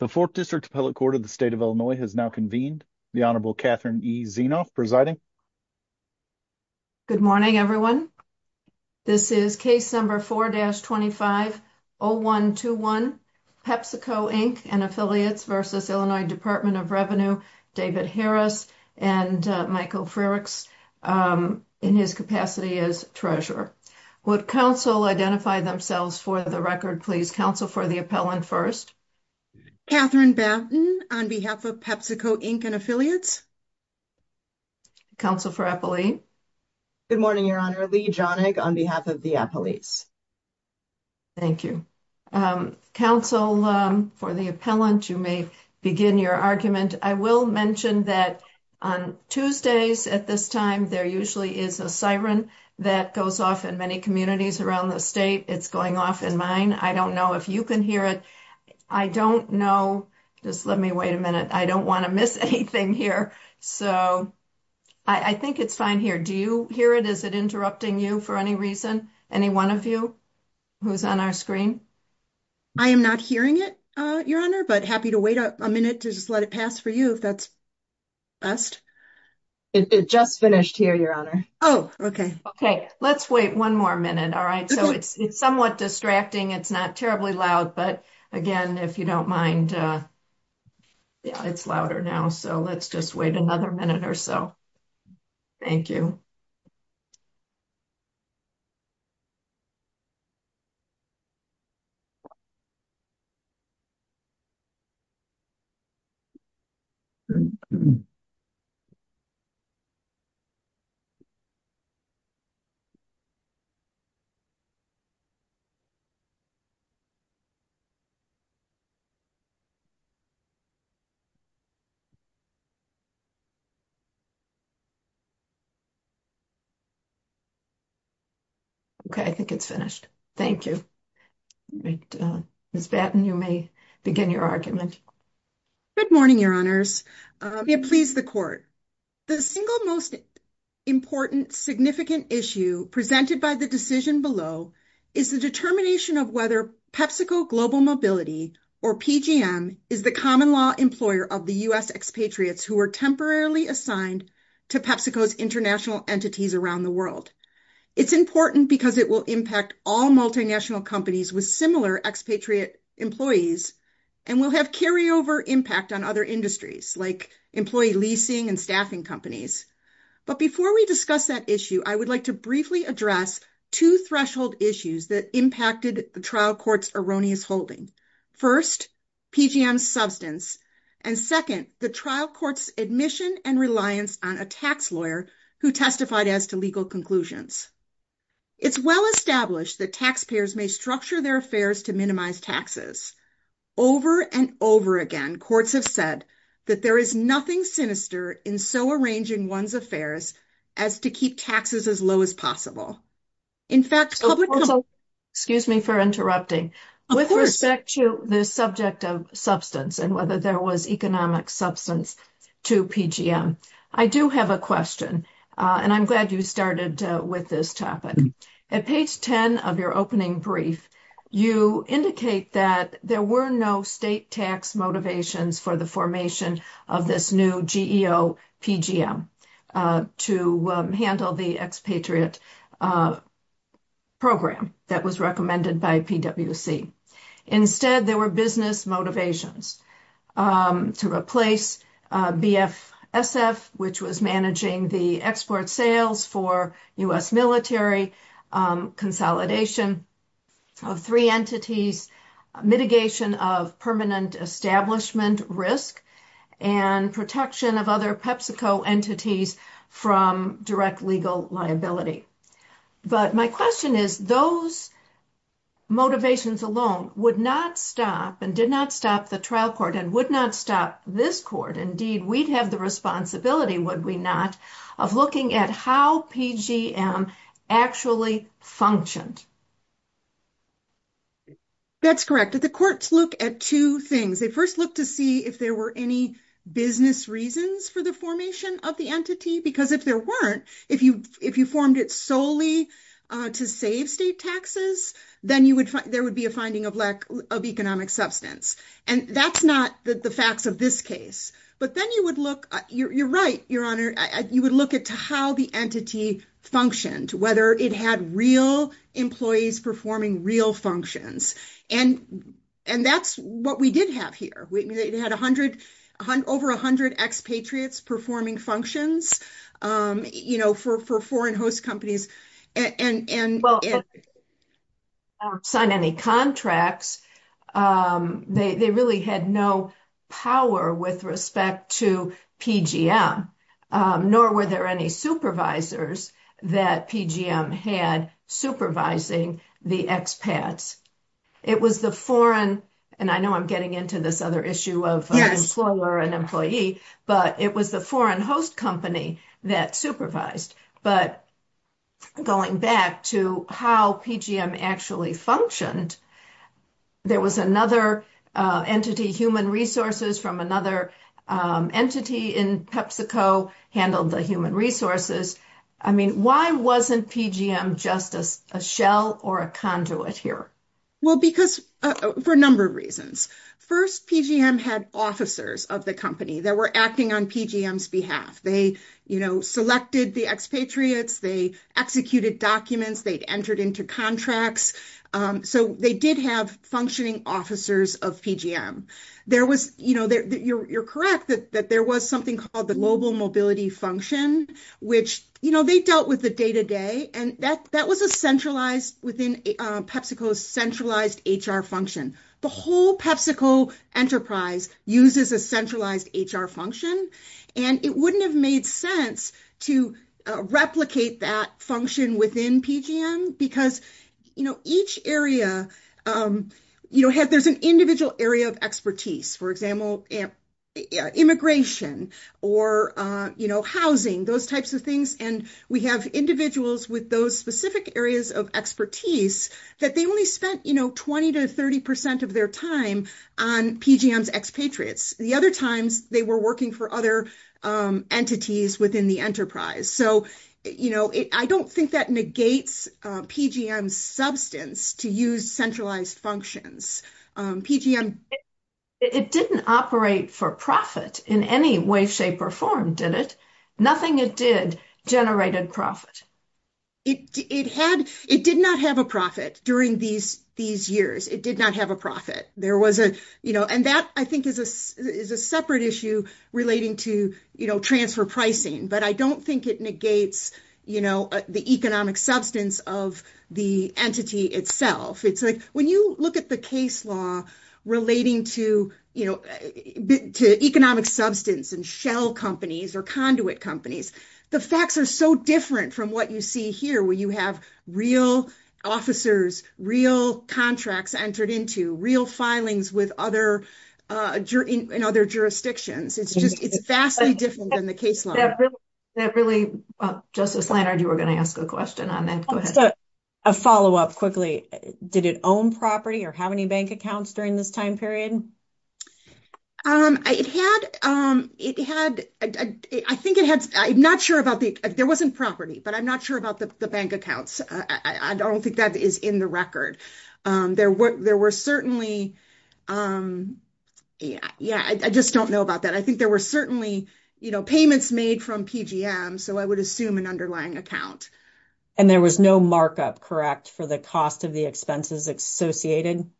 The Fourth District Appellate Court of the State of Illinois has now convened. The Honorable Catherine E. Zienoff presiding. Good morning everyone. This is case number 4-25-0121, Pepsico Inc. v. Illinois Department of Revenue, David Harris and Michael Frerichs in his capacity as treasurer. Would counsel identify themselves for the record, please? Counsel for the appellant first. Catherine Batten on behalf of Pepsico Inc. and affiliates. Counsel for appellee. Good morning, Your Honor. Leigh Jonig on behalf of the appellees. Thank you. Counsel for the appellant, you may begin your argument. I will mention that on Tuesdays at this time, there usually is a siren that goes off in many communities around the state. It's going off in mine. I don't know if you can hear it. I don't know. Just let me wait a minute. I don't want to miss anything here. So I think it's fine here. Do you hear it? Is it interrupting you for any reason? Any one of you who's on our screen? I am not hearing it, Your Honor, but happy to wait a minute to just let it pass for you if that's best. It just finished here, Your Honor. Oh, okay. Okay. Let's wait one more minute. All right. So it's somewhat distracting. It's not terribly loud. But again, if you don't mind, it's louder now. So let's just wait another minute or so. Thank you. Okay, I think it's finished. Thank you. Ms. Batten, you may begin your argument. Good morning, Your Honors. May it please the Court. The single most important significant issue presented by the decision below is the determination of whether PepsiCo Global Mobility or PGM is the common law employer of the U.S. expatriates who are temporarily assigned to PepsiCo's international entities around the world. It's important because it will impact all multinational companies with similar expatriate employees and will have carryover impact on other industries like employee leasing and staffing companies. But before we discuss that issue, I would like to briefly address two threshold issues that impacted the trial court's erroneous holding. First, PGM's substance. And second, the trial court's admission and reliance on a tax lawyer who testified as to legal conclusions. It's well established that taxpayers may structure their affairs to minimize taxes. Over and over again, courts have said that there is nothing sinister in so arranging one's affairs as to keep taxes as low as possible. In fact, excuse me for interrupting. With respect to the subject of substance and whether there was substance to PGM, I do have a question and I'm glad you started with this topic. At page 10 of your opening brief, you indicate that there were no state tax motivations for the formation of this new GEO PGM to handle the expatriate program that was recommended by PwC. Instead, there were business motivations to replace BFSF, which was managing the export sales for U.S. military, consolidation of three entities, mitigation of permanent establishment risk, and protection of other PEPSICO entities from direct legal liability. But my question is, those motivations alone would not stop and did not stop the trial court and would not stop this court. Indeed, we'd have the responsibility, would we not, of looking at how PGM actually functioned. That's correct. The courts look at two things. They first look to see if there were any business reasons for the formation of the entity because if there weren't, if you formed it solely to save state taxes, then there would be a finding of lack of economic substance. That's not the facts of this case. But then you would look, you're right, Your Honor, you would look at how the entity functioned, whether it had real employees performing real functions. That's what we did have here. We had over 100 expatriates performing functions. For foreign host companies and... Well, they didn't sign any contracts. They really had no power with respect to PGM, nor were there any supervisors that PGM had supervising the expats. It was the foreign, and I know I'm getting into this other issue of employer and employee, but it was the foreign host company that supervised. But going back to how PGM actually functioned, there was another entity, human resources from another entity in PepsiCo handled the human resources. I mean, why wasn't PGM just a shell or a conduit here? Well, for a number of reasons. First, PGM had officers of the company that were acting on PGM's behalf. They selected the expatriates, they executed documents, they'd entered into contracts. So they did have functioning officers of PGM. You're correct that there was something called the global mobility function, which they dealt with the day-to-day and that was a centralized within PepsiCo centralized HR function. The whole PepsiCo enterprise uses a centralized HR function and it wouldn't have made sense to replicate that function within PGM because each area... There's an individual area of expertise, for example, immigration or housing, those types of things. And we have individuals with those specific areas of expertise that they only spent 20% to 30% of their time on PGM's expatriates. The other times they were working for other entities within the enterprise. So I don't think that negates PGM's substance to use centralized functions. It didn't operate for profit in any way, shape or form, did it? Nothing it did generated profit. It did not have a profit during these years. It did not have a profit. And that, I think, is a separate issue relating to transfer pricing, but I don't look at the case law relating to economic substance and shell companies or conduit companies. The facts are so different from what you see here, where you have real officers, real contracts entered into, real filings in other jurisdictions. It's vastly different than the case law. That really... Justice Leonard, you were going to ask a question on that. Go ahead. A follow-up quickly. Did it own property or have any bank accounts during this time period? It had... I think it had... I'm not sure about the... There wasn't property, but I'm not sure about the bank accounts. I don't think that is in the record. There were certainly... Yeah, I just don't know about that. I think there were certainly payments made from PGM, so I would assume an underlying account. And there was no markup, correct, for the cost of the expenses associated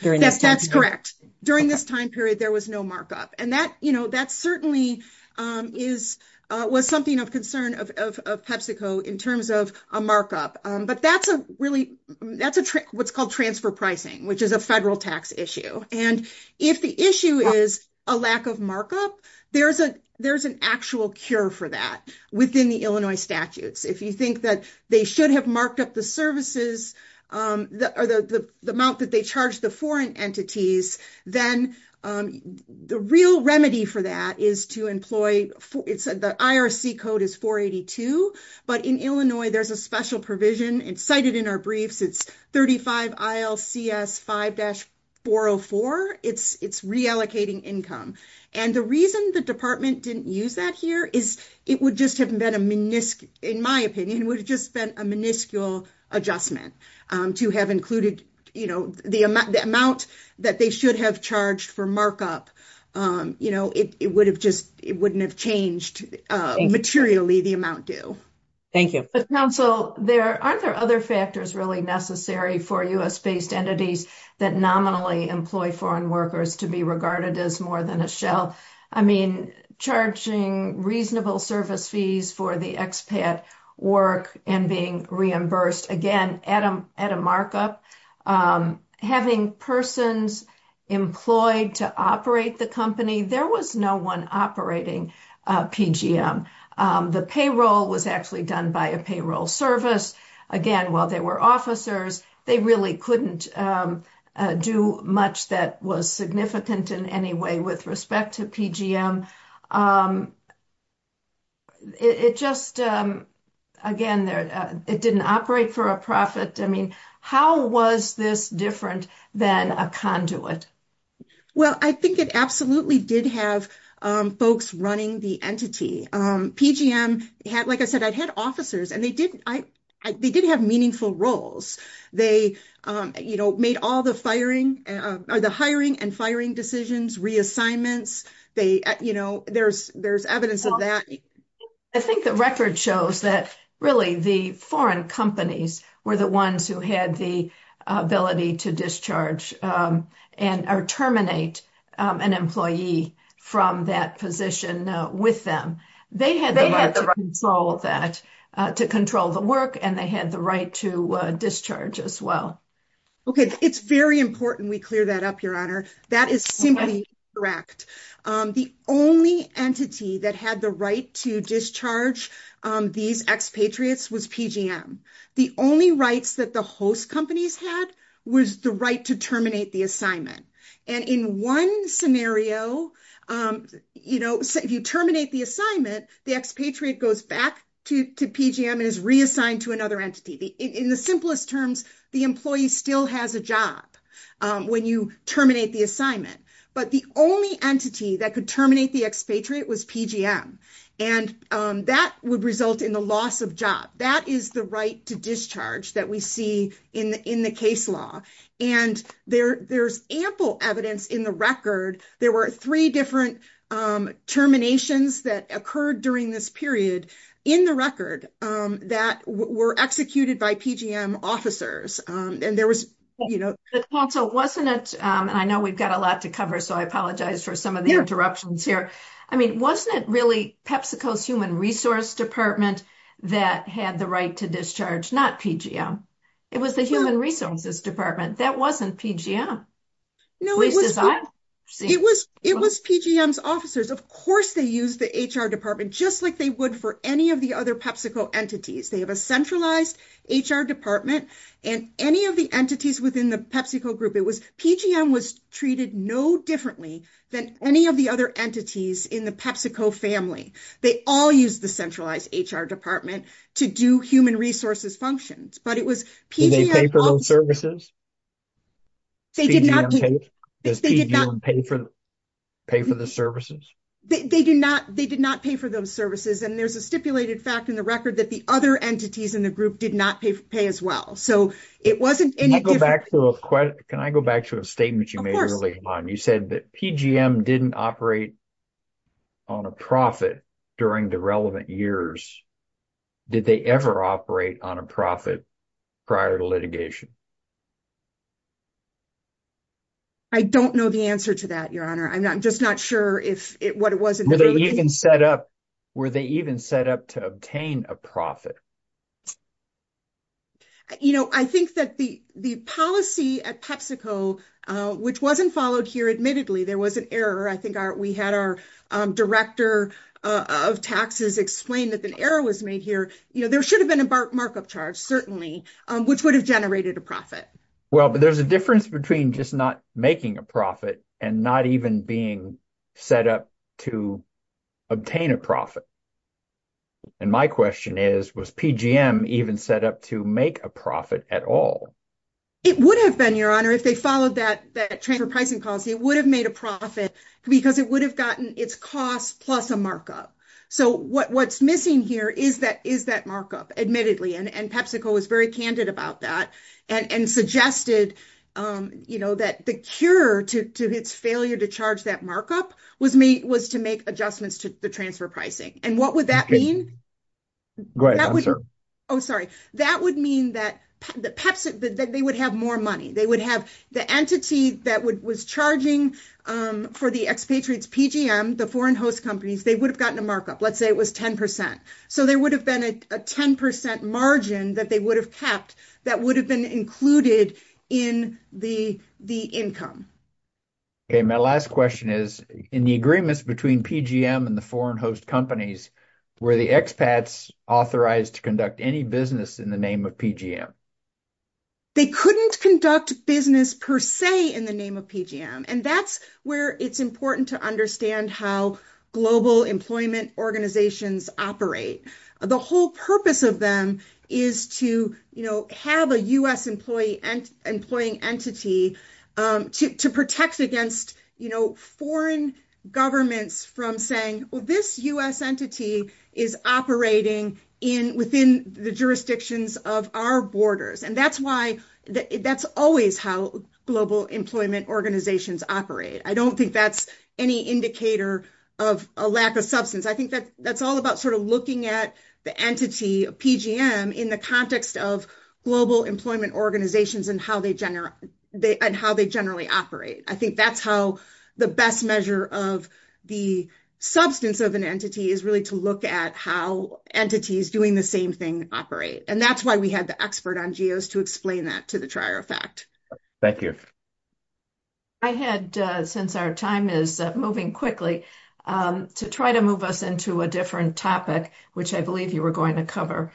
during this time period? Yes, that's correct. During this time period, there was no markup. And that certainly was something of concern of PepsiCo in terms of a markup. But that's a really... That's what's called transfer pricing, which is a federal tax issue. And if the issue is a lack of markup, there's an actual cure for that within the Illinois statutes. If you think that they should have marked up the services or the amount that they charge the foreign entities, then the real remedy for that is to employ... The IRC code is but in Illinois, there's a special provision. It's cited in our briefs. It's 35 ILCS 5-404. It's reallocating income. And the reason the department didn't use that here is it would just have been a miniscule... In my opinion, it would have just been a miniscule adjustment to have included the amount that they should have charged for markup. It wouldn't have changed materially the amount due. Thank you. But counsel, aren't there other factors really necessary for US-based entities that nominally employ foreign workers to be regarded as more than a shell? I mean, charging reasonable service fees for the expat work and being reimbursed, again, at a markup, having persons employed to operate the company, there was no one operating PGM. The payroll was actually done by a payroll service. Again, while they were officers, they really couldn't do much that was significant in any way with respect to PGM. It just, again, it didn't operate for a profit. I mean, how was this different than a conduit? Well, I think it absolutely did have folks running the entity. PGM had, like I said, I'd had officers and they did have meaningful roles. They made all the hiring and firing decisions, reassignments. There's evidence of that. I think the record shows that really the foreign companies were the ones who had the ability to discharge and terminate an employee from that position with them. They had the right to control that, to control the work, and they had the right to discharge as well. Okay. It's very important we clear that up, that is simply incorrect. The only entity that had the right to discharge these expatriates was PGM. The only rights that the host companies had was the right to terminate the assignment. In one scenario, if you terminate the assignment, the expatriate goes back to PGM and is reassigned to another entity. In the simplest terms, the employee still has a job when you terminate the assignment, but the only entity that could terminate the expatriate was PGM. That would result in the loss of job. That is the right to discharge that we see in the case law. There's ample evidence in the record. There were three different terminations that occurred during this period in the record that were executed by PGM officers. I know we've got a lot to cover, so I apologize for some of the interruptions here. Wasn't it really PepsiCo's human resource department that had the right to discharge, not PGM? It was the human resources department. That they would for any of the other PepsiCo entities. They have a centralized HR department. Any of the entities within the PepsiCo group, PGM was treated no differently than any of the other entities in the PepsiCo family. They all use the centralized HR department to do human resources functions. Did they pay for those services? They did not. Does PGM pay for the services? They did not. They did not pay for those services. And there's a stipulated fact in the record that the other entities in the group did not pay as well. So it wasn't any different. Can I go back to a statement you made earlier on? You said that PGM didn't operate on a profit during the relevant years. Did they ever operate on a profit prior to litigation? I don't know the answer to that, Your Honor. I'm just not sure what it was. Were they even set up to obtain a profit? I think that the policy at PepsiCo, which wasn't followed here, admittedly, there was an error. I think we had our director of taxes explain that an error was made here. There should have been a markup charge, certainly, which would have generated a profit. Well, but there's a difference between just not making a profit and not even being set up to obtain a profit. And my question is, was PGM even set up to make a profit at all? It would have been, Your Honor, if they followed that transfer pricing policy, it would have made a profit because it would have gotten its cost plus a markup. So what's missing here is that markup, admittedly. And PepsiCo was very candid about that and suggested that the cure to its failure to charge that markup was to make adjustments to the transfer pricing. And what would that mean? Go ahead, answer. Oh, sorry. That would mean that they would have more money. They would have the entity that was charging for the expatriates, PGM, the foreign host companies, they would have gotten a markup. Let's say it was 10%. So there would have been a 10% margin that they would have kept that would have been included in the income. Okay. My last question is, in the agreements between PGM and the foreign host companies, were the expats authorized to conduct any business in the name of PGM? They couldn't conduct business per se in the name of PGM. And that's where it's important to understand how global employment organizations operate. The whole purpose of them is to have a U.S. employing entity to protect against foreign governments from saying, well, this U.S. entity is operating within the jurisdictions of our borders. And that's why that's always how global employment organizations operate. I don't think that's any indicator of a lack of substance. I think that that's all about sort of looking at the entity of PGM in the context of global employment organizations and how they and how they generally operate. I think that's how the best measure of the substance of an entity is really to look at how entities doing the same thing operate. And that's why we had the expert on geos to explain that to the trier effect. Thank you. I had, since our time is moving quickly, to try to move us into a different topic, which I believe you were going to cover.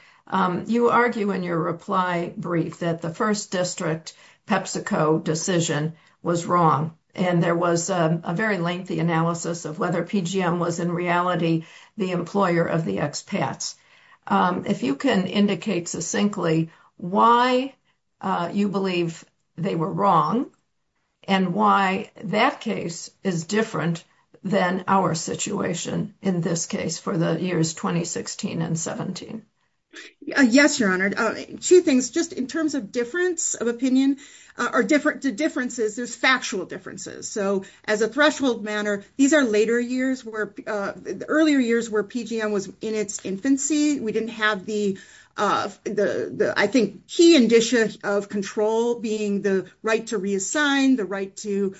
You argue in your reply brief that the first district PepsiCo decision was wrong. And there was a very lengthy analysis of whether PGM was in reality the employer of the expats. If you can indicate succinctly why you believe they were wrong and why that case is different than our situation in this case for the years 2016 and 17. Yes, your honor. Two things, just in terms of difference of opinion or different differences, there's factual differences. So as a threshold manner, these are later years where the earlier years where PGM was in its infancy, we didn't have the, I think, key indicia of control being the right to reassign the right to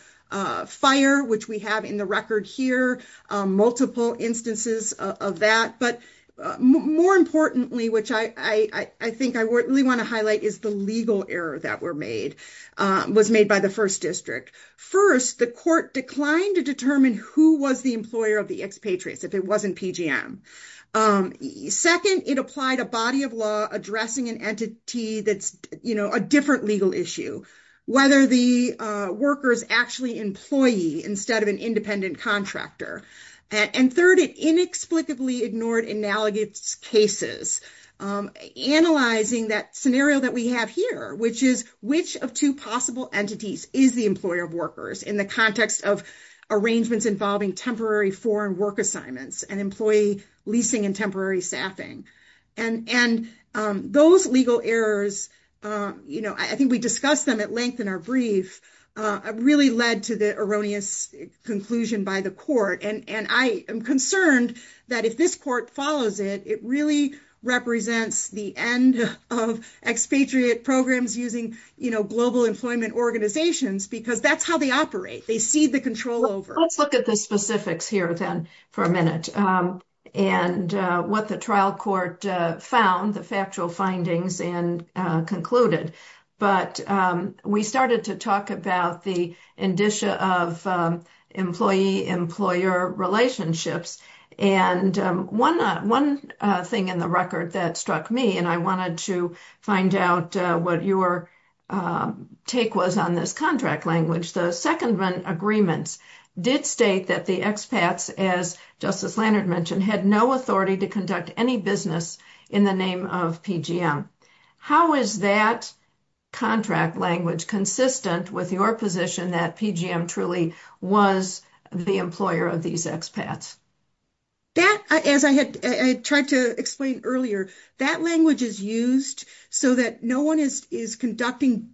fire, which we have in the record here, multiple instances of that. But more importantly, which I think I really want to highlight is the legal error that was made by the first district. First, the court declined to determine who was the employer of the expatriates if it wasn't PGM. Second, it applied a body of law addressing an entity that's a different legal issue, whether the worker's actually employee instead of an independent contractor. And third, it inexplicably ignored inallegate cases, analyzing that scenario that we have here, which is which of two possible entities is the employer of workers in the context of arrangements involving temporary foreign work assignments and employee leasing and temporary staffing. And those legal errors, I think we discussed them at length in our brief, really led to the erroneous conclusion by the court. And I am concerned that if this court follows it, it really represents the end of expatriate programs using global employment organizations because that's how they operate. They cede the control over. Let's look at the specifics here then for a minute and what the trial court found, the factual findings and concluded. But we started to talk about the indicia of employee-employer relationships. And one thing in the record that struck me, and I wanted to find out what your take was on this contract language, the secondment agreements did state that the expats, as Justice Leonard mentioned, had no authority to conduct any business in the name of PGM. How is that contract language consistent with your position that PGM truly was the employer of these expats? That, as I had tried to explain earlier, that language is used so that no one is conducting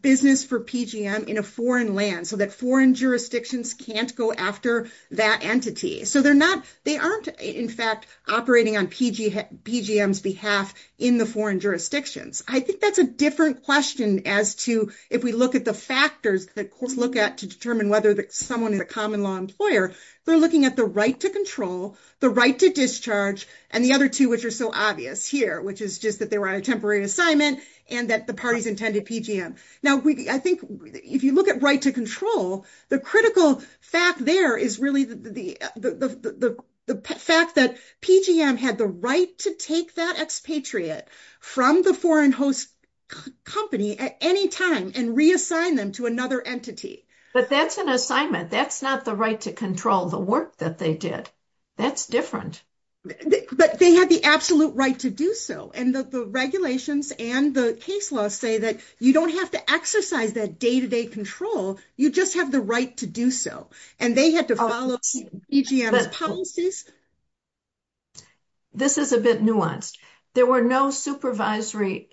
business for PGM in a foreign land, so that foreign jurisdictions can't go after that entity. So they're not, they aren't, in fact, operating on PGM's behalf in the foreign jurisdictions. I think that's a different question as to, if we look at the factors that courts look at to determine whether someone is a common law employer, they're looking at the right to control, the right to discharge, and the other two, which are so obvious here, which is just that they were on a temporary assignment and that the parties intended PGM. Now, I think if you look at right to control, the critical fact there is really the fact that PGM had the right to take that expatriate from the foreign host company at any time and reassign them to another entity. But that's an assignment. That's not the right to control the work that they did. That's different. But they had the absolute right to do so. And the regulations and the case laws say that you don't have to exercise that day-to-day control. You just have the right to do so. And they had to follow PGM's policies. This is a bit nuanced. There were no supervisory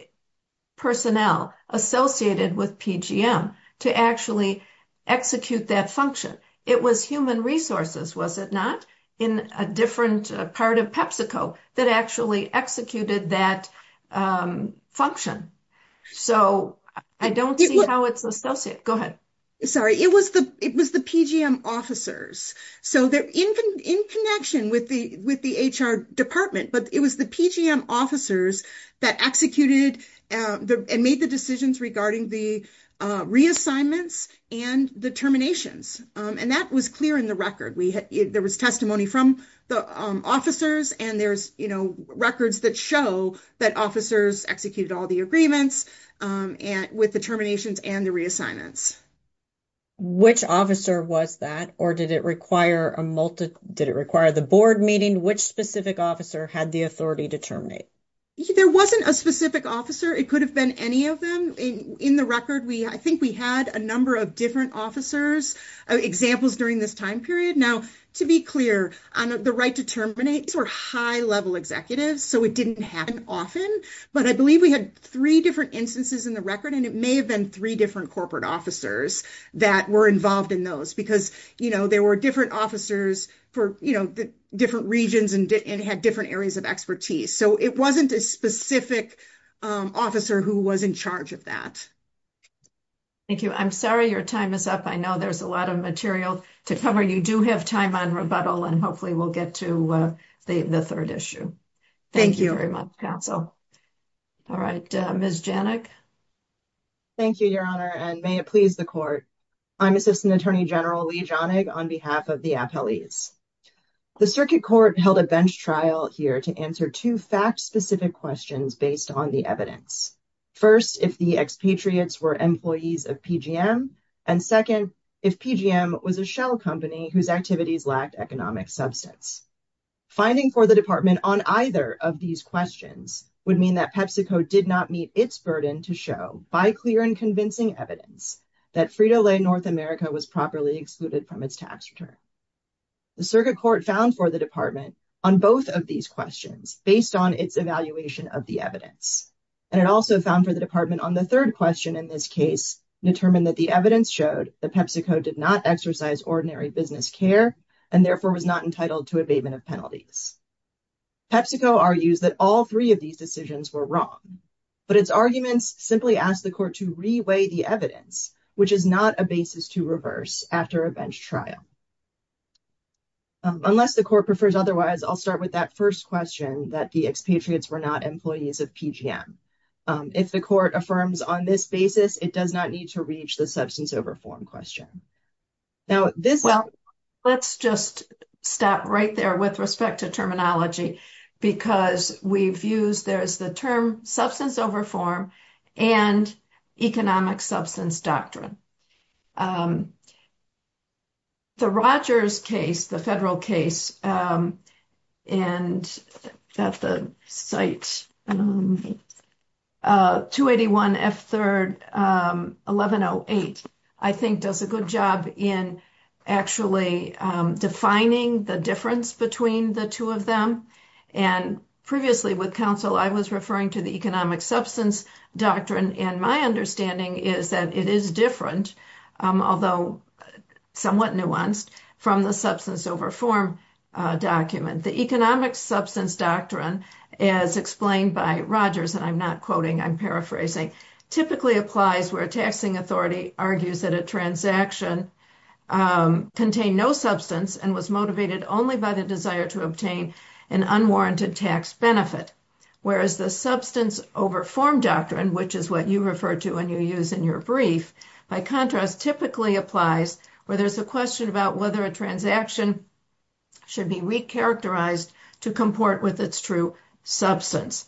personnel associated with PGM to actually execute that function. It was human resources, was it not, in a different part of PepsiCo that actually executed that function. So, I don't see how it's associated. Go ahead. Sorry. It was the PGM officers. So, in connection with the HR department, but it was the PGM officers that executed and made the decisions regarding the reassignments and the terminations. And that was clear in the record. There was testimony from the officers and there's records that show that officers executed all the agreements with the terminations and the reassignments. Which officer was that? Or did it require the board meeting? Which specific officer had the authority to terminate? There wasn't a specific officer. It could have been any of them. In the record, I think we had a number of different officers, examples during this time period. Now, to be clear, the right to terminate were high-level executives, so it didn't happen often. But I believe we had three different instances in the record, and it may have been three different corporate officers that were involved in those, because there were different officers for different regions and had different areas of expertise. So, it wasn't a specific officer who was in charge of that. Thank you. I'm sorry your time is up. I know there's a lot of material to cover. You do have time on rebuttal, and hopefully we'll get to the third issue. Thank you very much, counsel. All right. Ms. Janik. Thank you, Your Honor, and may it please the Court. I'm Assistant Attorney General Leigh Janik on behalf of the appellees. The Circuit Court held a bench trial here to answer two fact-specific questions based on the evidence. First, if the expatriates were employees of PGM, and second, if PGM was a shell company whose activities lacked economic substance. Finding for the Department on either of these questions would mean that PepsiCo did not meet its burden to show, by clear and convincing evidence, that Frito-Lay North America was properly excluded from its tax return. The Circuit Court found for the Department on both of these questions based on its evaluation of the evidence, and it also found for the Department on the third question in this case determined that the evidence showed that PepsiCo did not exercise ordinary business care and therefore was not entitled to abatement of penalties. PepsiCo argues that all three of these decisions were wrong, but its arguments simply ask the Court to reweigh the evidence, which is not a basis to reverse after a bench trial. Unless the Court prefers otherwise, I'll start with that first question that the expatriates were not employees of PGM. If the Court affirms on this basis, it does not need to reach the substance over form question. Well, let's just stop right there with respect to terminology because we've used, there's the term substance over form and economic substance doctrine. The Rogers case, the federal I think does a good job in actually defining the difference between the two of them. And previously with counsel, I was referring to the economic substance doctrine and my understanding is that it is different, although somewhat nuanced, from the substance over form document. The economic substance doctrine as explained by Rogers, and I'm not quoting, I'm paraphrasing, typically applies where a taxing authority argues that a transaction contained no substance and was motivated only by the desire to obtain an unwarranted tax benefit. Whereas the substance over form doctrine, which is what you refer to when you use in your brief, by contrast, typically applies where there's a question about whether a transaction should be recharacterized to comport with its true substance.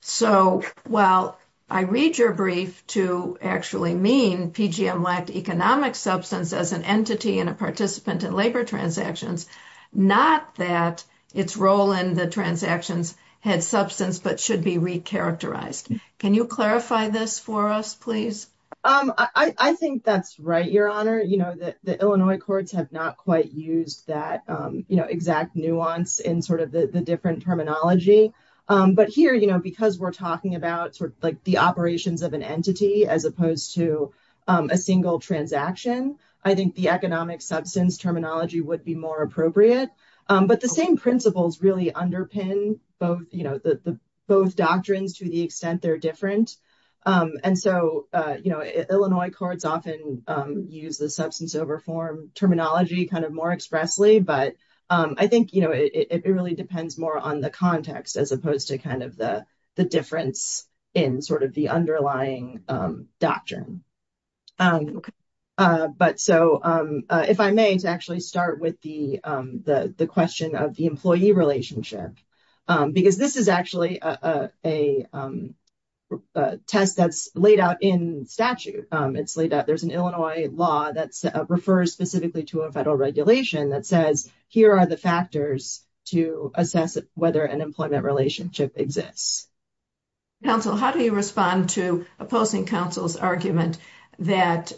So while I read your brief to actually mean PGM lacked economic substance as an entity and a participant in labor transactions, not that its role in the transactions had substance but should be recharacterized. Can you clarify this for us, please? I think that's right, Your Honor. The Illinois courts have not quite used that exact nuance in the different terminology. But here, because we're talking about the operations of an entity as opposed to a single transaction, I think the economic substance terminology would be more appropriate. But the same principles really underpin both doctrines to the extent they're different. And so, you know, Illinois courts often use the substance over form terminology kind of more expressly. But I think, you know, it really depends more on the context as opposed to kind of the difference in sort of the underlying doctrine. But so if I may, to actually start with the question of the employee relationship, because this is actually a test that's laid out in statute. There's an Illinois law that refers specifically to a federal regulation that says here are the factors to assess whether an employment relationship exists. Counsel, how do you respond to opposing counsel's argument that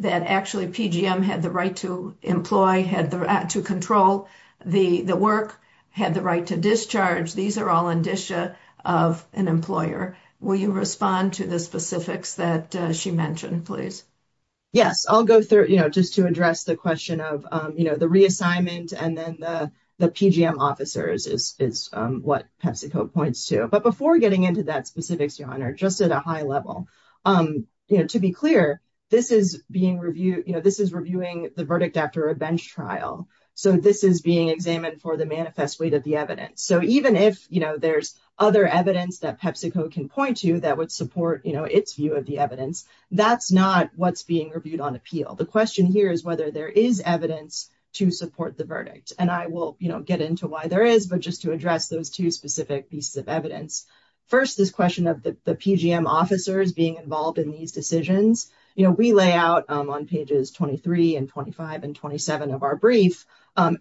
actually PGM had the right to employ, had the right to control the work, had the right to discharge? These are all indicia of an employer. Will you respond to the specifics that she mentioned, please? Yes, I'll go through, you know, just to address the question of, you know, the reassignment and then the PGM officers is what PepsiCo points to. But before getting into that specifics, Your Honor, just at a high level, you know, to be clear, this is being reviewed, you know, this is reviewing the verdict after a bench trial. So this is being examined for the manifest weight of the evidence. So even if, you know, there's other evidence that PepsiCo can point to that would support, you know, its view of the evidence, that's not what's being reviewed on appeal. The question here is whether there is evidence to support the verdict. And I will, you know, get into why there is, but just to address those two specific pieces of evidence. First, this question of the PGM officers being involved in these decisions, you know, we lay out on pages 23 and 25 and 27 of our brief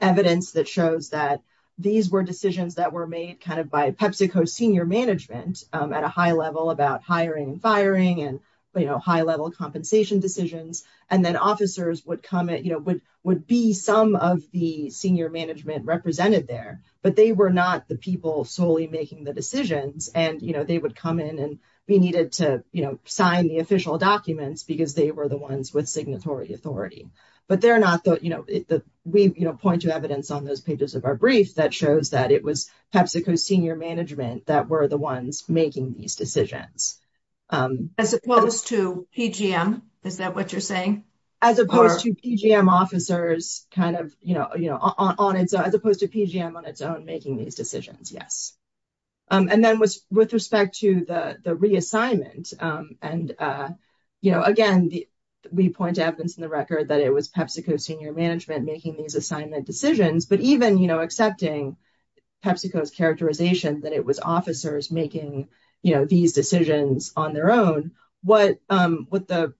evidence that shows that these were decisions that were made kind of by PepsiCo senior management at a high level about hiring and firing and, you know, high level compensation decisions. And then officers would come at, you know, would be some of the senior management represented there, but they were not the people solely making the decisions. And, you know, they would come in and we needed to, you know, sign the official documents because they were the ones with signatory authority, but they're not the, you know, we, you know, point to evidence on those pages of our brief that shows that it was PepsiCo senior management that were the ones making these decisions. As opposed to PGM, is that what you're saying? As opposed to PGM officers kind of, you know, you know, on its, as opposed to PGM on its own yes. And then with respect to the reassignment and, you know, again, we point to evidence in the record that it was PepsiCo senior management making these assignment decisions, but even, you know, accepting PepsiCo's characterization that it was officers making, you know, these decisions on their own, what the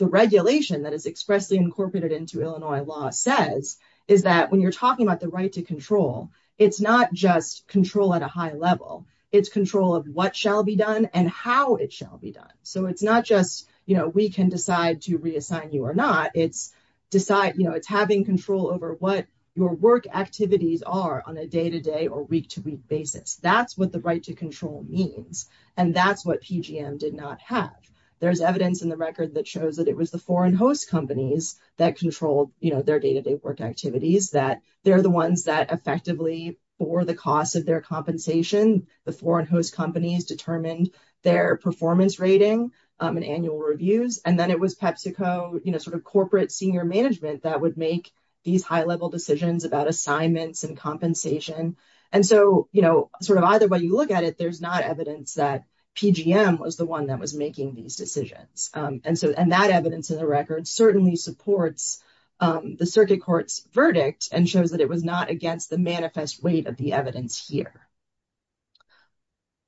regulation that is expressly incorporated into Illinois law says is that when you're talking about the right to control, it's not just control at a high level, it's control of what shall be done and how it shall be done. So it's not just, you know, we can decide to reassign you or not. It's decide, you know, it's having control over what your work activities are on a day-to-day or week-to-week basis. That's what the right to control means. And that's what PGM did not have. There's evidence in the record that shows that it was the foreign host companies that controlled, you know, their day-to-day work activities that they're the ones that effectively for the cost of their compensation, the foreign host companies determined their performance rating and annual reviews. And then it was PepsiCo, you know, sort of corporate senior management that would make these high level decisions about assignments and compensation. And so, you know, sort of either way you look at it, there's not evidence that PGM was the one that was making these decisions. And so, and that evidence in the record certainly supports the circuit court's verdict and shows that it was not against the manifest weight of the evidence here.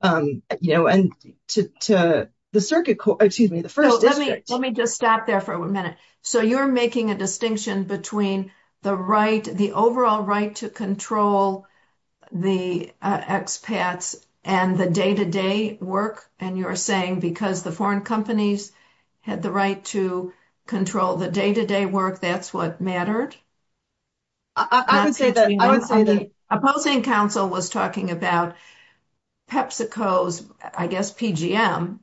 You know, and to the circuit court, excuse me, the first district. Let me just stop there for a minute. So you're making a distinction between the right, the and you're saying because the foreign companies had the right to control the day-to-day work, that's what mattered? I would say that opposing council was talking about PepsiCo's, I guess, PGM,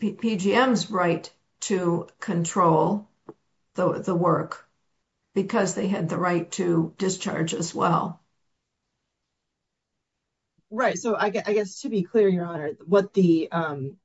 PGM's right to control the work because they had the right to discharge as well. Right. So I guess, to be clear, Your Honor, what the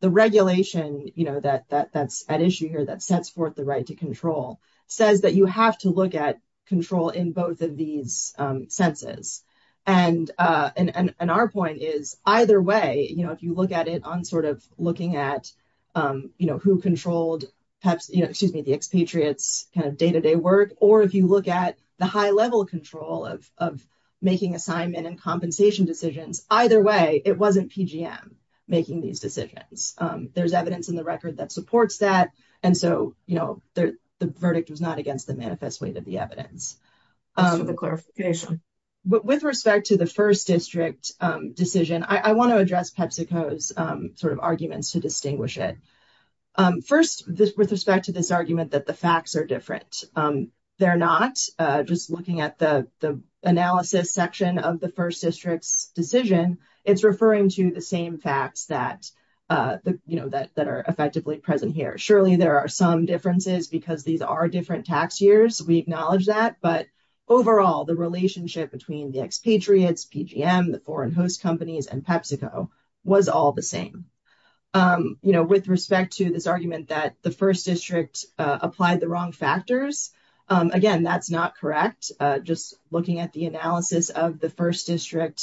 regulation, you know, that's at issue here that sets forth the right to control says that you have to look at control in both of these senses. And our point is either way, you know, if you look at it on sort of looking at, you know, who controlled Pepsi, you know, excuse me, the expatriates kind of day-to-day work, or if you look at the high control of making assignment and compensation decisions, either way, it wasn't PGM making these decisions. There's evidence in the record that supports that. And so, you know, the verdict was not against the manifest way that the evidence. With respect to the first district decision, I want to address PepsiCo's sort of arguments to distinguish it. First, with respect to this argument that the facts are different, they're not. Just looking at the analysis section of the first district's decision, it's referring to the same facts that, you know, that are effectively present here. Surely there are some differences because these are different tax years. We acknowledge that. But overall, the relationship between the expatriates, PGM, the foreign host companies and PepsiCo was all the same. You know, with respect to this argument that the first district applied the wrong factors, again, that's not correct. Just looking at the analysis of the first district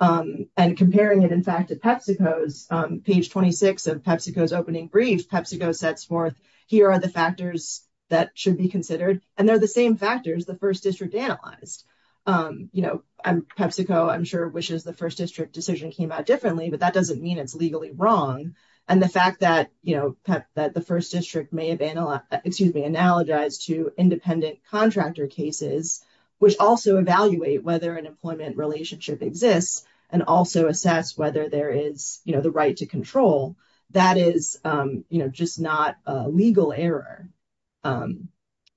and comparing it, in fact, to PepsiCo's, page 26 of PepsiCo's opening brief, PepsiCo sets forth, here are the factors that should be considered, and they're the same factors the first district analyzed. You know, PepsiCo, I'm sure, wishes the first district decision came out differently, but that doesn't mean it's legally wrong. And the fact that, you know, that the first district may have, excuse me, analogized to independent contractor cases, which also evaluate whether an employment relationship exists, and also assess whether there is, you know, the right to control, that is, you know, just not a legal error.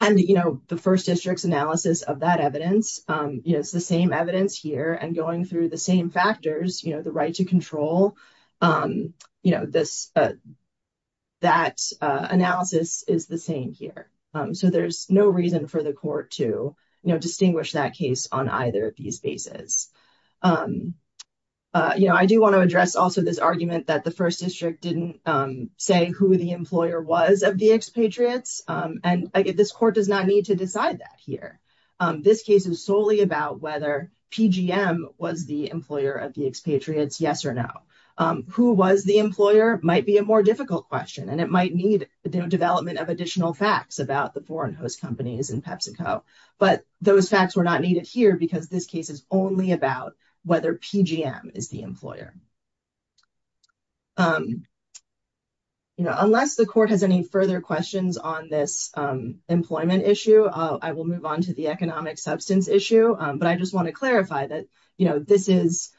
And, you know, the first district's analysis of that evidence, you know, it's the same evidence here, and going through the same factors, you know, the right to control, you know, that analysis is the same here. So there's no reason for the court to, you know, distinguish that case on either of these bases. You know, I do want to address also this argument that the first district didn't say who the employer was of the expatriates, and again, this court does not need to decide that here. This case is solely about whether PGM was the employer of the expatriates, yes or no. Who was the employer might be a more difficult question, and it might need the development of additional facts about the foreign host companies and PepsiCo. But those facts were not needed here, because this case is only about whether PGM is the employer. You know, unless the court has any further questions on this employment issue, I will move on to the economic substance issue. But I just want to clarify that, you know, this is,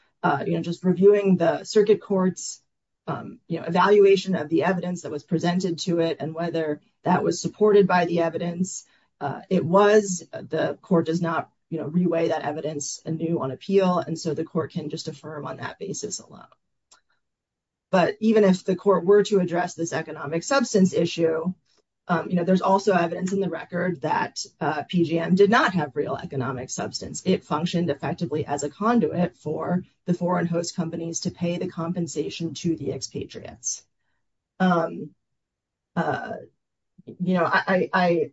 you know, just reviewing the circuit court's, you know, evaluation of the evidence that was presented to it, and whether that was supported by the evidence. It was. The court does not, you know, reweigh that evidence anew on appeal, and so the court can just affirm on that basis alone. But even if the court were to address this economic substance issue, you know, there's also evidence in the record that PGM did not have real economic substance. It functioned effectively as a conduit for the foreign host companies to pay the compensation to the expatriates. You know, I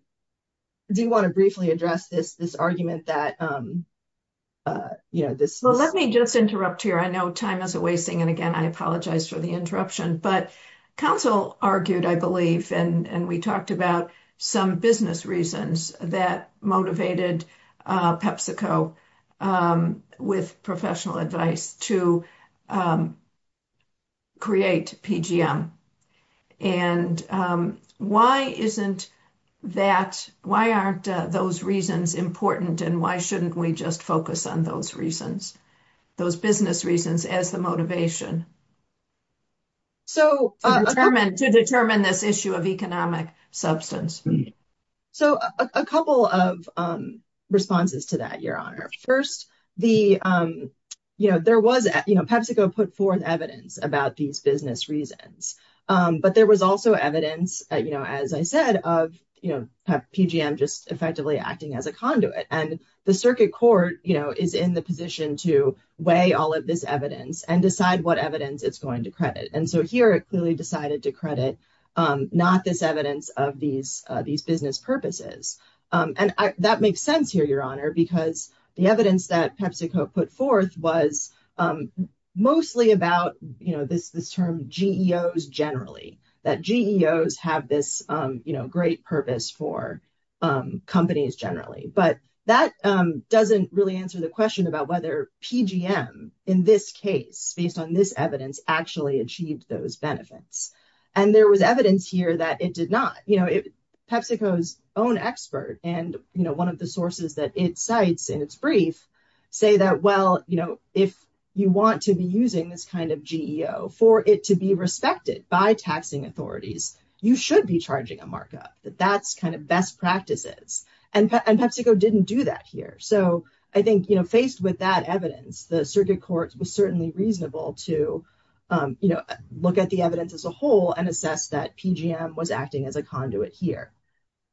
do want to briefly address this argument that, you know, this- Well, let me just interrupt here. I know time is a wasting, and again, I apologize for the interruption, but counsel argued, I believe, and we talked about some business reasons that motivated PepsiCo, with professional advice, to create PGM. And why isn't that- Why aren't those reasons important, and why shouldn't we just focus on those reasons, those business reasons, as the motivation? So- To determine this issue of economic substance. So, a couple of responses to that, Your Honor. First, the, you know, there was, you know, PepsiCo put forth evidence about these business reasons, but there was also evidence, you know, as I said, of, you know, PGM just effectively acting as a conduit. And the circuit court, you know, is in the position to weigh all of this evidence and decide what evidence it's going to credit. And so, here, it clearly decided to credit not this evidence of these business purposes. And that makes sense here, Your Honor, because the evidence that PepsiCo put forth was mostly about, you know, this term, GEOs generally, that GEOs have this, you know, great purpose for companies generally. But that doesn't really answer the question about whether PGM, in this case, based on this evidence, actually achieved those benefits. And there was evidence here that it did not. You know, PepsiCo's own expert, and, you know, one of the sources that it cites in its brief, say that, well, you know, if you want to be using this kind of GEO for it to be respected by taxing authorities, you should be charging a that that's kind of best practices. And PepsiCo didn't do that here. So, I think, you know, faced with that evidence, the circuit court was certainly reasonable to, you know, look at the evidence as a whole and assess that PGM was acting as a conduit here.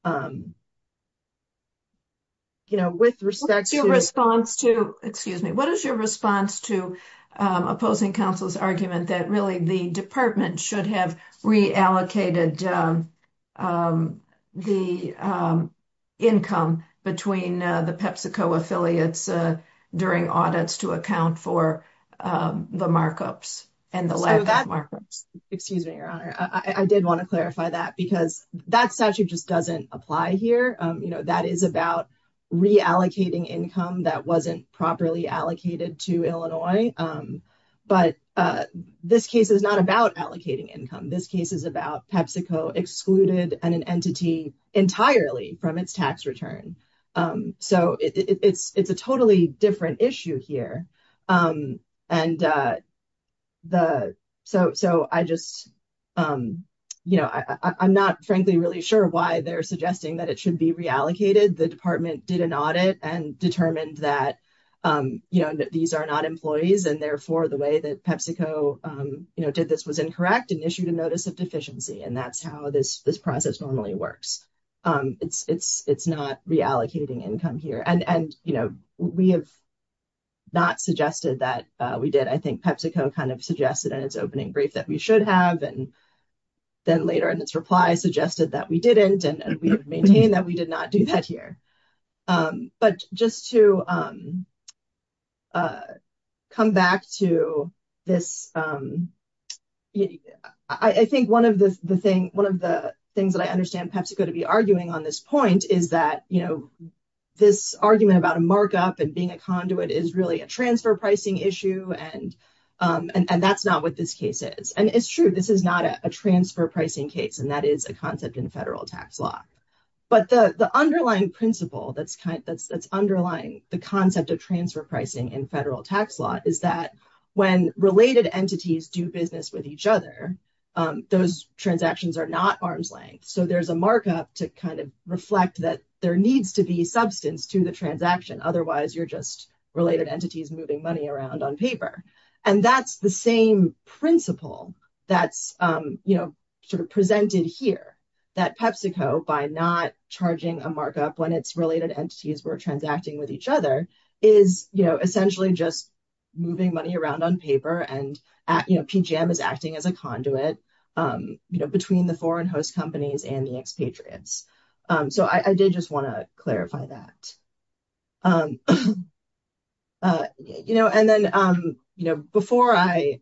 You know, with respect to... What's your response to, excuse me, what is your response to opposing counsel's argument that really the department should have reallocated the income between the PepsiCo affiliates during audits to account for the markups? Excuse me, Your Honor. I did want to clarify that because that statute just doesn't apply here. You know, that is about reallocating income that wasn't properly allocated to Illinois. But this case is not about allocating income. This case is about PepsiCo excluded an entity entirely from its tax return. So, it's a totally different issue here. And so, I just, you know, I'm not frankly really sure why they're suggesting that it should be reallocated. The the way that PepsiCo, you know, did this was incorrect and issued a notice of deficiency, and that's how this process normally works. It's not reallocating income here. And, you know, we have not suggested that we did. I think PepsiCo kind of suggested in its opening brief that we should have, and then later in its reply suggested that we didn't, and we maintain that we didn't. But, you know, going back to this, I think one of the things that I understand PepsiCo to be arguing on this point is that, you know, this argument about a markup and being a conduit is really a transfer pricing issue, and that's not what this case is. And it's true, this is not a transfer pricing case, and that is a concept in federal tax law. But the underlying principle that's underlying the concept of transfer pricing in federal tax law is that when related entities do business with each other, those transactions are not arm's length. So, there's a markup to kind of reflect that there needs to be substance to the transaction. Otherwise, you're just related entities moving money around on paper. And that's the same principle that's, you know, presented here, that PepsiCo, by not charging a markup when its related entities were transacting with each other, is, you know, essentially just moving money around on paper, and, you know, PGM is acting as a conduit, you know, between the foreign host companies and the expatriates. So, I did just want to clarify that. You know, and then, you know, before I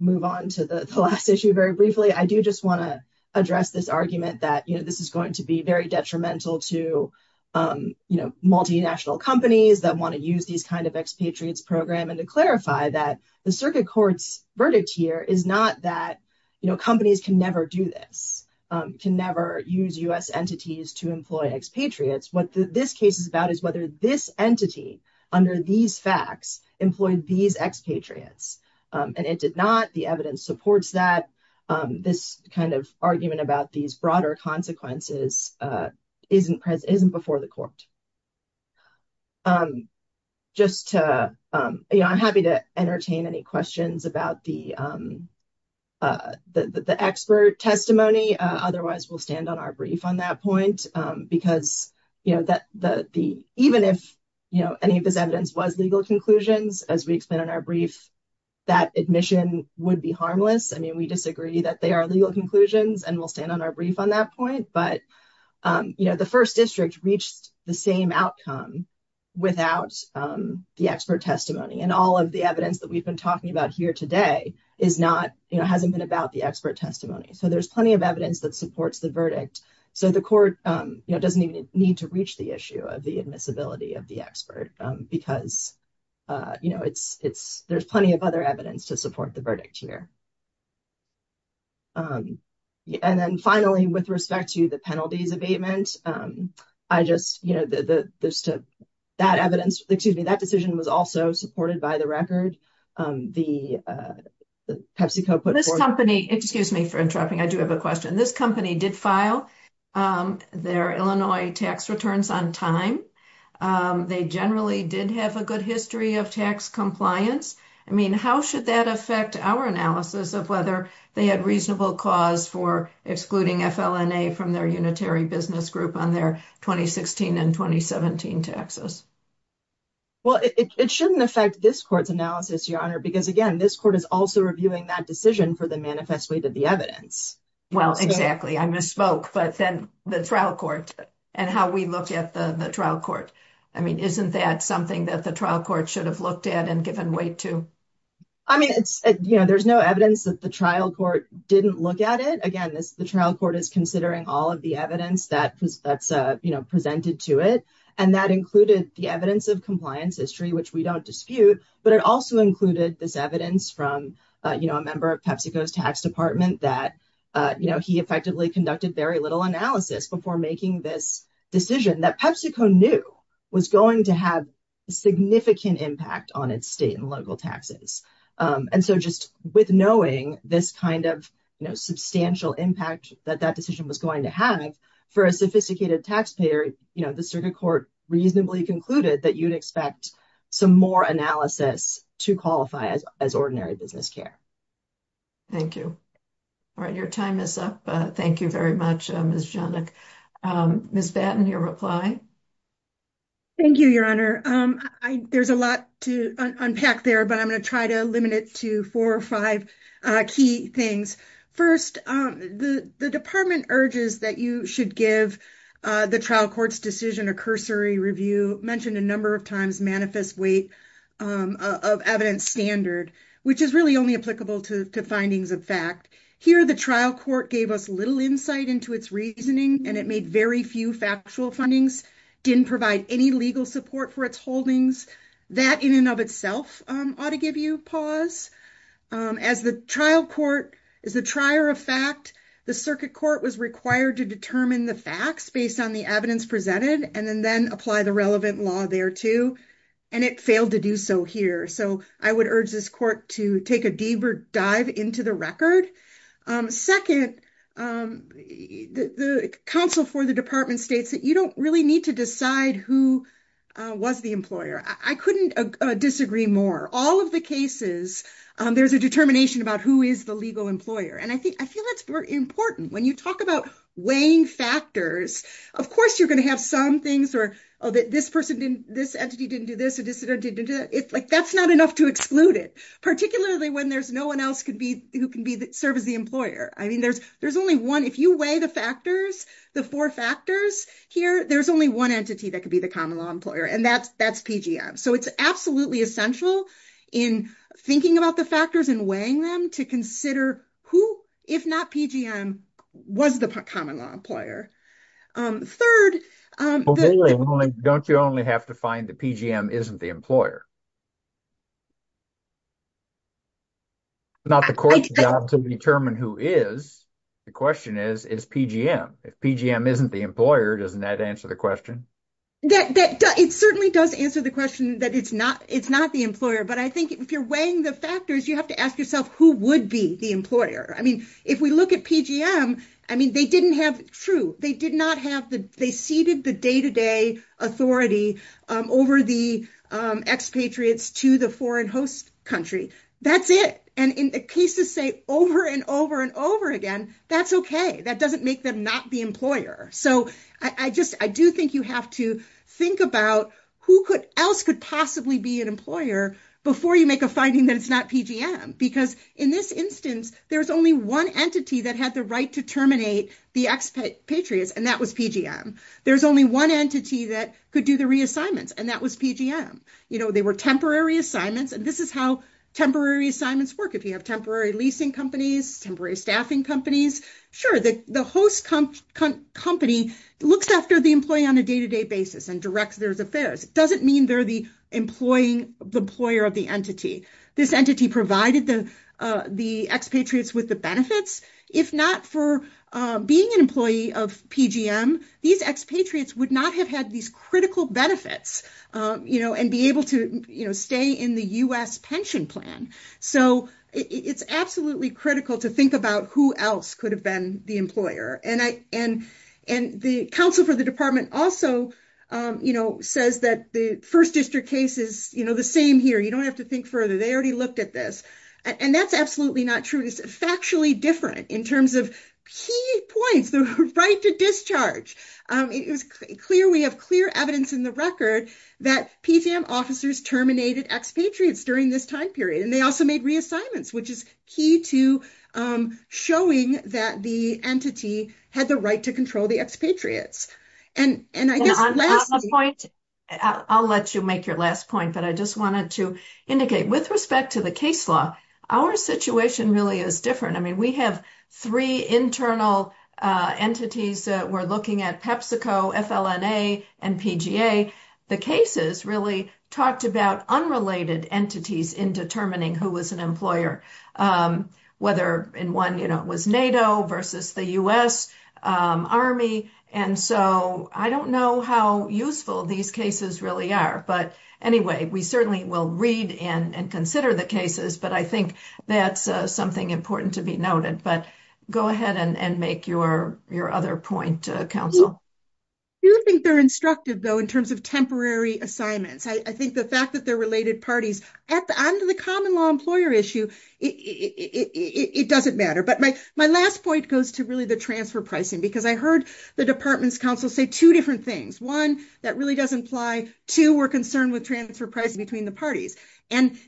move on to the last issue very briefly, I do just want to address this argument that, you know, this is going to be very detrimental to, you know, multinational companies that want to use these kind of expatriates program. And to clarify that the circuit court's verdict here is not that, you know, companies can never do this, can never use U.S. entities to employ expatriates. What this case is about is whether this entity, under these facts, employed these expatriates. And it did not. The evidence supports that. This kind of argument about these broader consequences isn't before the court. Just to, you know, I'm happy to entertain any questions about the expert testimony. Otherwise, we'll stand on our brief on that point. Because, you know, even if, you know, any of this evidence was legal conclusions, as we explained in our brief, that admission would be harmless. I mean, we disagree that they are legal conclusions, and we'll stand on our brief on that point. But, you know, the first district reached the same outcome without the expert testimony. And all of the evidence that we've been talking about here today is not, you know, hasn't been about the expert testimony. So there's plenty of evidence that supports the verdict. So the court, you know, doesn't even need to reach the issue of admissibility of the expert. Because, you know, there's plenty of other evidence to support the verdict here. And then, finally, with respect to the penalties abatement, I just, you know, that evidence, excuse me, that decision was also supported by the record. The PepsiCo put forth. This company, excuse me for interrupting. I do have a question. This company did file their Illinois tax returns on time. They generally did have a good history of tax compliance. I mean, how should that affect our analysis of whether they had reasonable cause for excluding FLNA from their unitary business group on their 2016 and 2017 taxes? Well, it shouldn't affect this court's analysis, Your Honor, because, again, this court is also reviewing that decision for the evidence. Well, exactly. I misspoke. But then the trial court and how we look at the trial court. I mean, isn't that something that the trial court should have looked at and given weight to? I mean, it's, you know, there's no evidence that the trial court didn't look at it. Again, the trial court is considering all of the evidence that's, you know, presented to it. And that included the evidence of compliance history, which we don't dispute. But it also included this evidence from, you know, a member of PepsiCo's tax department that, you know, he effectively conducted very little analysis before making this decision that PepsiCo knew was going to have significant impact on its state and local taxes. And so just with knowing this kind of substantial impact that that decision was going to have for a sophisticated taxpayer, you know, the circuit court reasonably concluded that you'd expect some more analysis to qualify as ordinary business care. Thank you. All right. Your time is up. Thank you very much, Ms. Johnick. Ms. Batten, your reply. Thank you, Your Honor. There's a lot to unpack there, but I'm going to try to limit it to four or five key things. First, the department urges that you should give the trial court's decision a cursory review, mentioned a number of times, manifest weight of evidence standard, which is really only applicable to findings of fact. Here, the trial court gave us little insight into its reasoning, and it made very few factual findings, didn't provide any legal support for its holdings. That in and of itself ought to give you pause. As the trial court is the trier of fact, the circuit court was required to determine the facts based on the evidence presented, and then apply the relevant law thereto. And it failed to do so here. So I would urge this court to take a deeper dive into the record. Second, the counsel for the department states that you don't really need to decide who was the employer. I couldn't disagree more. All of the there's a determination about who is the legal employer. And I feel that's important. When you talk about weighing factors, of course, you're going to have some things where, oh, this entity didn't do this, and this entity didn't do that. That's not enough to exclude it, particularly when there's no one else who can serve as the employer. I mean, there's only one. If you weigh the factors, the four factors here, there's only one entity that could be the common law employer, and that's that's PGM. So it's absolutely essential in thinking about the factors and weighing them to consider who, if not PGM, was the common law employer. Third, Don't you only have to find the PGM isn't the employer? Not the court's job to determine who is. The question is, is PGM? If PGM isn't the employer, doesn't that answer the question? That it certainly does answer the question that it's not it's not the employer. But I think if you're weighing the factors, you have to ask yourself, who would be the employer? I mean, if we look at PGM, I mean, they didn't have true. They did not have the they ceded the day to day authority over the expatriates to the foreign host country. That's it. And in the cases say over and over and over again, that's OK. That doesn't make them not the employer. So I just I do think you have to think about who else could possibly be an employer before you make a finding that it's not PGM, because in this instance, there's only one entity that had the right to terminate the expatriates. And that was PGM. There's only one entity that could do the reassignments. And that was PGM. You know, they were temporary assignments. And this is how temporary assignments work. If you have temporary leasing companies, temporary staffing companies, sure, the host company looks after the employee on a day to day basis and directs their affairs. It doesn't mean they're the employing the employer of the entity. This entity provided the the expatriates with the benefits. If not for being an employee of PGM, these expatriates would not have had these critical benefits, you know, and be able to stay in the U.S. pension plan. So it's absolutely critical to think about who else could have been the employer. And the counsel for the department also says that the first district case is the same here. You don't have to think further. They already looked at this. And that's absolutely not true. It's factually different in terms of key points, the right to discharge. It was clear. We have clear evidence in the record that PGM officers terminated expatriates during this time period. And they also made reassignments, which is key to showing that the entity had the right to control the expatriates. And I guess on a point, I'll let you make your last point, but I just wanted to indicate with respect to the case law, our situation really is different. I mean, we have three internal entities that we're looking at, PepsiCo, FLNA, and PGA. The cases really talked about unrelated entities in determining who was an employer, whether in one, you know, it was NATO versus the U.S. Army. And so I don't know how useful these cases really are. But anyway, we certainly will read and consider the cases, but I think that's something important to be noted. But go ahead and make your other point, Counsel. I do think they're instructive, though, in terms of temporary assignments. I think the fact that they're related parties at the end of the common law employer issue, it doesn't matter. But my last point goes to really the transfer pricing, because I heard the department's counsel say two different things. One, that really does imply two, we're concerned with transfer pricing between the parties. And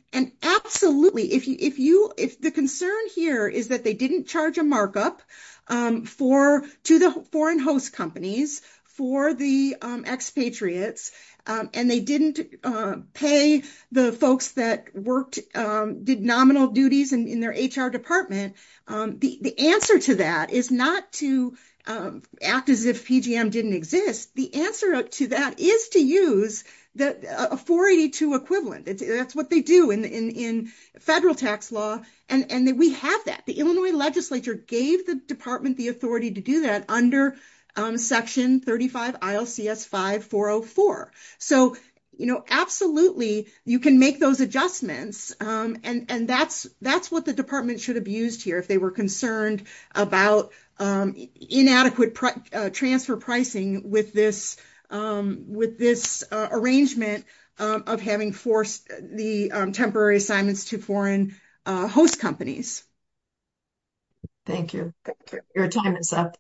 absolutely, the concern here is that they didn't charge a markup to the foreign host companies for the expatriates, and they didn't pay the folks that did nominal duties in their HR department. The answer to that is not to act as if PGM didn't exist. The answer to that is to use a 482 equivalent. That's what they do in federal tax law. And we have that. The Illinois legislature gave the department the authority to do that under Section 35 ILCS 5404. So absolutely, you can make those adjustments. And that's what the department should have used here if they were about inadequate transfer pricing with this arrangement of having forced the temporary assignments to foreign host companies. Thank you. Your time is up.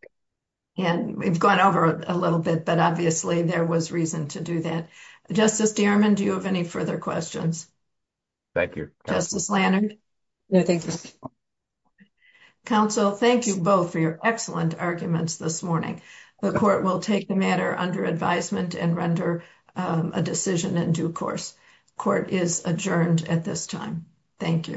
And we've gone over a little bit, but obviously, there was reason to do that. Justice Dierman, do you have any further questions? Thank you. Justice Lanard? No, thank you. Counsel, thank you both for your excellent arguments this morning. The court will take the matter under advisement and render a decision in due course. Court is adjourned at this time. Thank you.